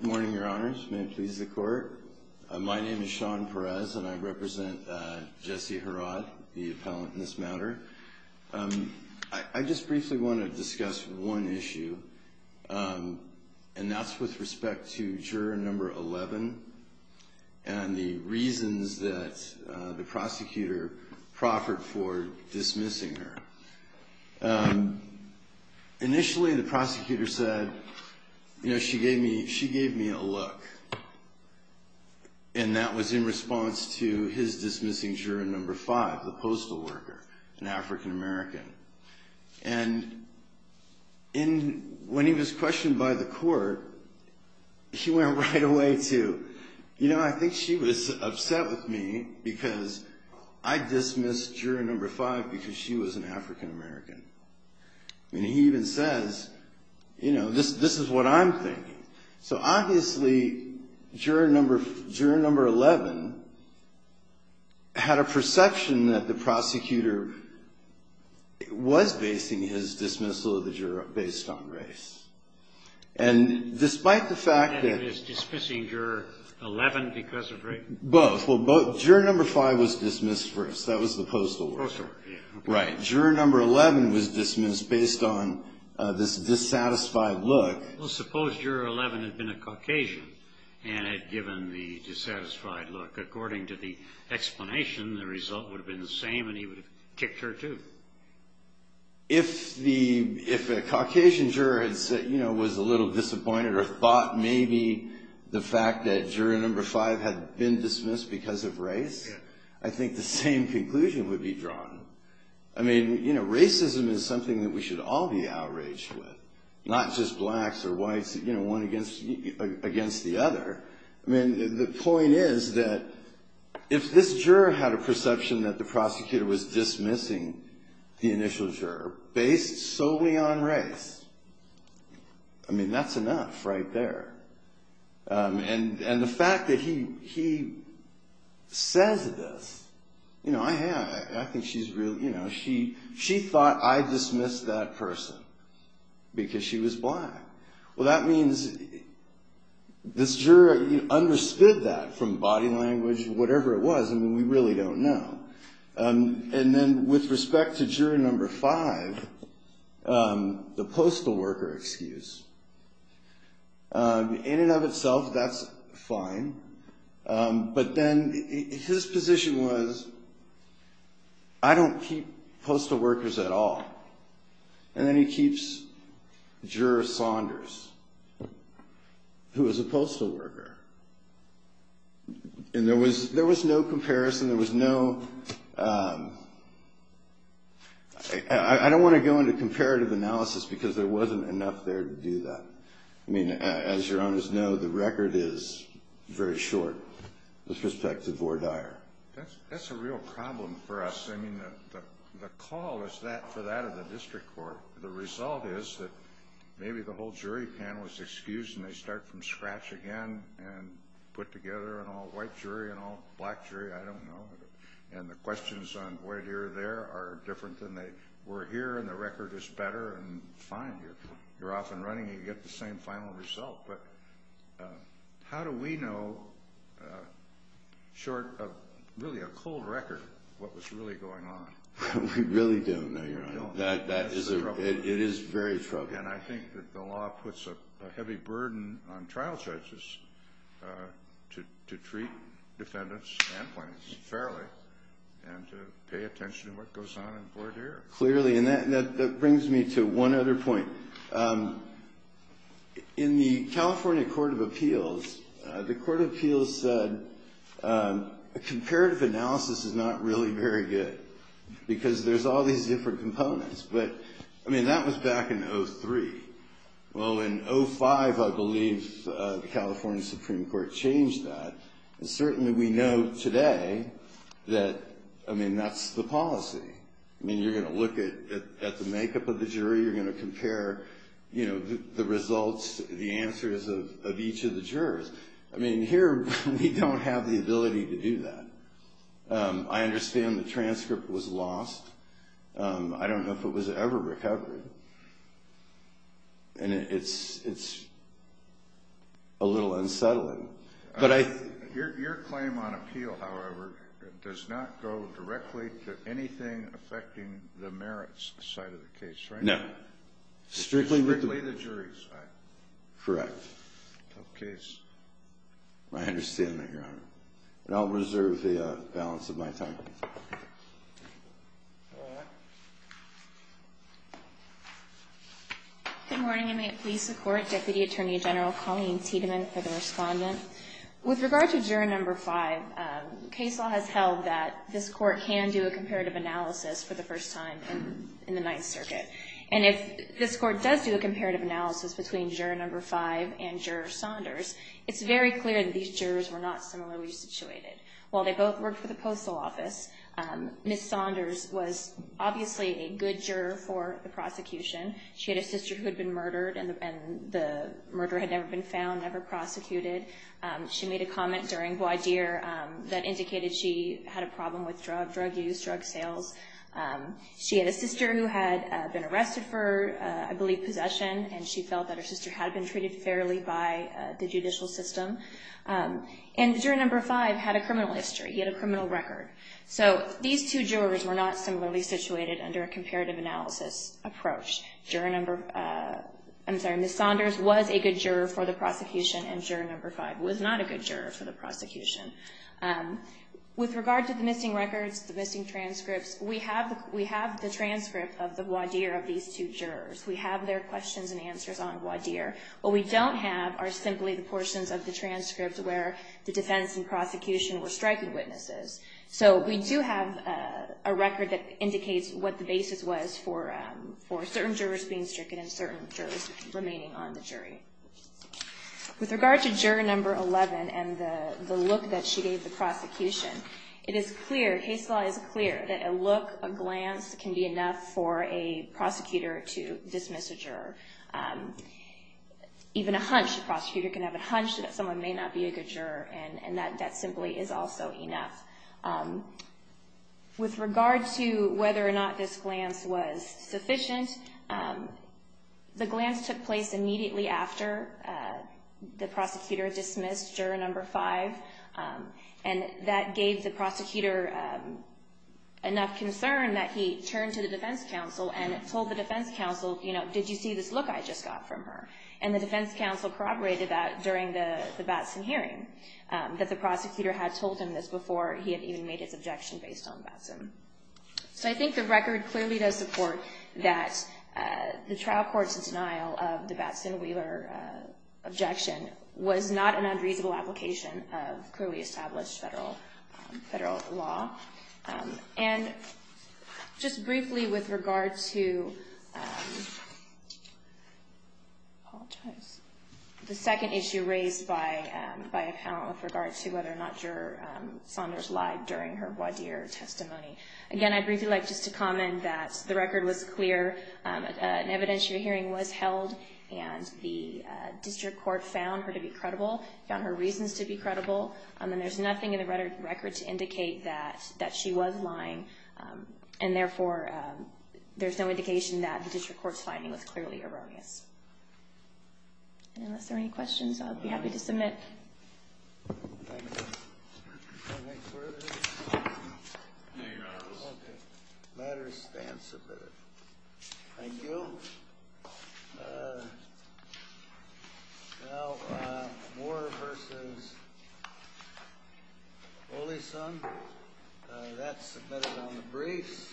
Morning, Your Honors. May it please the Court. My name is Sean Perez, and I represent Jesse Harrod, the appellant in this matter. I just briefly want to discuss one issue, and that's with respect to juror number 11 and the reasons that the prosecutor proffered for dismissing her. Initially, the prosecutor said, you know, she gave me a look, and that was in response to his dismissing juror number 5, the postal worker, an African American. And when he was right away to, you know, I think she was upset with me because I dismissed juror number 5 because she was an African American. And he even says, you know, this is what I'm thinking. So obviously, juror number 11 had a perception that the prosecutor was basing his dismissal of the juror based on race. And despite the fact that... And it is dismissing juror 11 because of race? Both. Well, both. Juror number 5 was dismissed first. That was the postal worker. Postal worker, yeah. Right. Juror number 11 was dismissed based on this dissatisfied look. Well, suppose juror 11 had been a Caucasian and had given the dissatisfied look. According to the explanation, the result would have been the same, and he would have kicked her, too. If a Caucasian juror, you know, was a little disappointed or thought maybe the fact that juror number 5 had been dismissed because of race, I think the same conclusion would be drawn. I mean, you know, racism is something that we should all be outraged with, not just blacks or whites, you know, one against the other. I mean, the point is that if this juror had a perception that the prosecutor was dismissing the initial juror based solely on race, I mean, that's enough right there. And the fact that he says this, you know, I think she's really, you know, she thought I dismissed that person because she was black. Well, that means this juror understood that from body language, whatever it was. I mean, we really don't know. And then with respect to juror number 5, the postal worker excuse, in and of itself, that's fine. But then his position was, I don't keep postal workers at all. And then he keeps juror Saunders, who is a postal worker. And there was no comparison, there was no, I don't want to go into comparative analysis because there wasn't enough there to do that. I mean, as your honors know, the record is very short with respect to Vore Dyer. That's a real problem for us. I mean, the call is for that of the district court. The result is that maybe the whole jury panel is excused and they start from scratch again and put together an all-white jury, an all-black jury, I don't know. And the questions on Vore Dyer there are different than they were here and the record is better and fine. You're we know, short of really a cold record, what was really going on. We really don't know, your honor. It is very troubling. And I think that the law puts a heavy burden on trial judges to treat defendants and plaintiffs fairly and to pay attention to what goes on in Vore Dyer. Clearly, and that brings me to one other point. In the California Court of Appeals, the Court of Appeals said a comparative analysis is not really very good because there's all these different components. But, I mean, that was back in 03. Well, in 05, I believe the California Supreme Court changed that. And certainly we know today that, I mean, that's the policy. I mean, you're going to look at the makeup of the jury. You're going to compare, you know, the results, the answers of each of the jurors. I mean, here we don't have the ability to do that. I understand the transcript was lost. I don't know if it was ever recovered. And it's a little unsettling. But I... Your claim on appeal, however, does not go directly to anything affecting the merits side of the case, right? No. Strictly with the... Strictly the jury's side. Correct. Tough case. I understand that, Your Honor. And I'll reserve the balance of my time. Good morning, and may it please the Court, Deputy Attorney General Colleen Tiedemann for the respondent. With regard to Juror No. 5, case law has held that this Court can do a comparative analysis for the first time in the Ninth Circuit. And if this Court does do a comparative analysis between Juror No. 5 and Juror Saunders, it's very clear that these jurors were not similarly situated. While they both worked for the Postal Office, Ms. Saunders was obviously a good juror for the prosecution. She had a sister who had been murdered, and the murder had never been found, never prosecuted. She made a comment during voir dire that indicated she had a problem with drug use, drug sales. She had a sister who had been arrested for, I believe, possession, and she felt that her sister had been treated fairly by the judicial system. And Juror No. 5 had a criminal history. He had a criminal record. So these two jurors were not similarly situated under a comparative analysis approach. Juror No.... I'm sorry, Ms. Saunders was a good juror for the prosecution, and Juror No. 5 was not a good juror for the prosecution. With regard to the missing records, the missing transcripts, we have the transcript of the voir dire of these two jurors. We have their questions and answers on voir dire. What we don't have are simply the portions of the transcripts where the defense and prosecution were striking witnesses. So we do have a record that indicates what the basis was for certain jurors being stricken and certain jurors remaining on the jury. With regard to Juror No. 11 and the look that she gave the prosecution, it is clear, case law is clear, that a look, a glance, can be enough for a prosecutor to dismiss a juror. Even a hunch, a prosecutor can have a hunch that someone may not be a good juror, and that simply is also enough. With regard to whether or not this glance was made immediately after the prosecutor dismissed Juror No. 5, and that gave the prosecutor enough concern that he turned to the defense counsel and told the defense counsel, you know, did you see this look I just got from her? And the defense counsel corroborated that during the Batson hearing, that the prosecutor had told him this before he had even made his objection based on Batson. So I think the record clearly does support that the trial court's denial of the Batson Wheeler objection was not an unreasonable application of clearly established federal law. And just briefly with regard to the second issue raised by a panel with regard to whether or not Judge Saunders lied during her voir dire testimony. Again, I'd briefly like just to comment that the record was clear, an evidentiary hearing was held, and the district court found her to be credible, found her reasons to be credible, and there's nothing in the record to indicate that she was lying, and therefore there's no indication that the district court's finding was clearly erroneous. And unless there are any questions, I'll be happy to submit. Thank you. Okay, matters stand submitted. Thank you. Now, Moore v. Oleson, that's submitted on the briefs.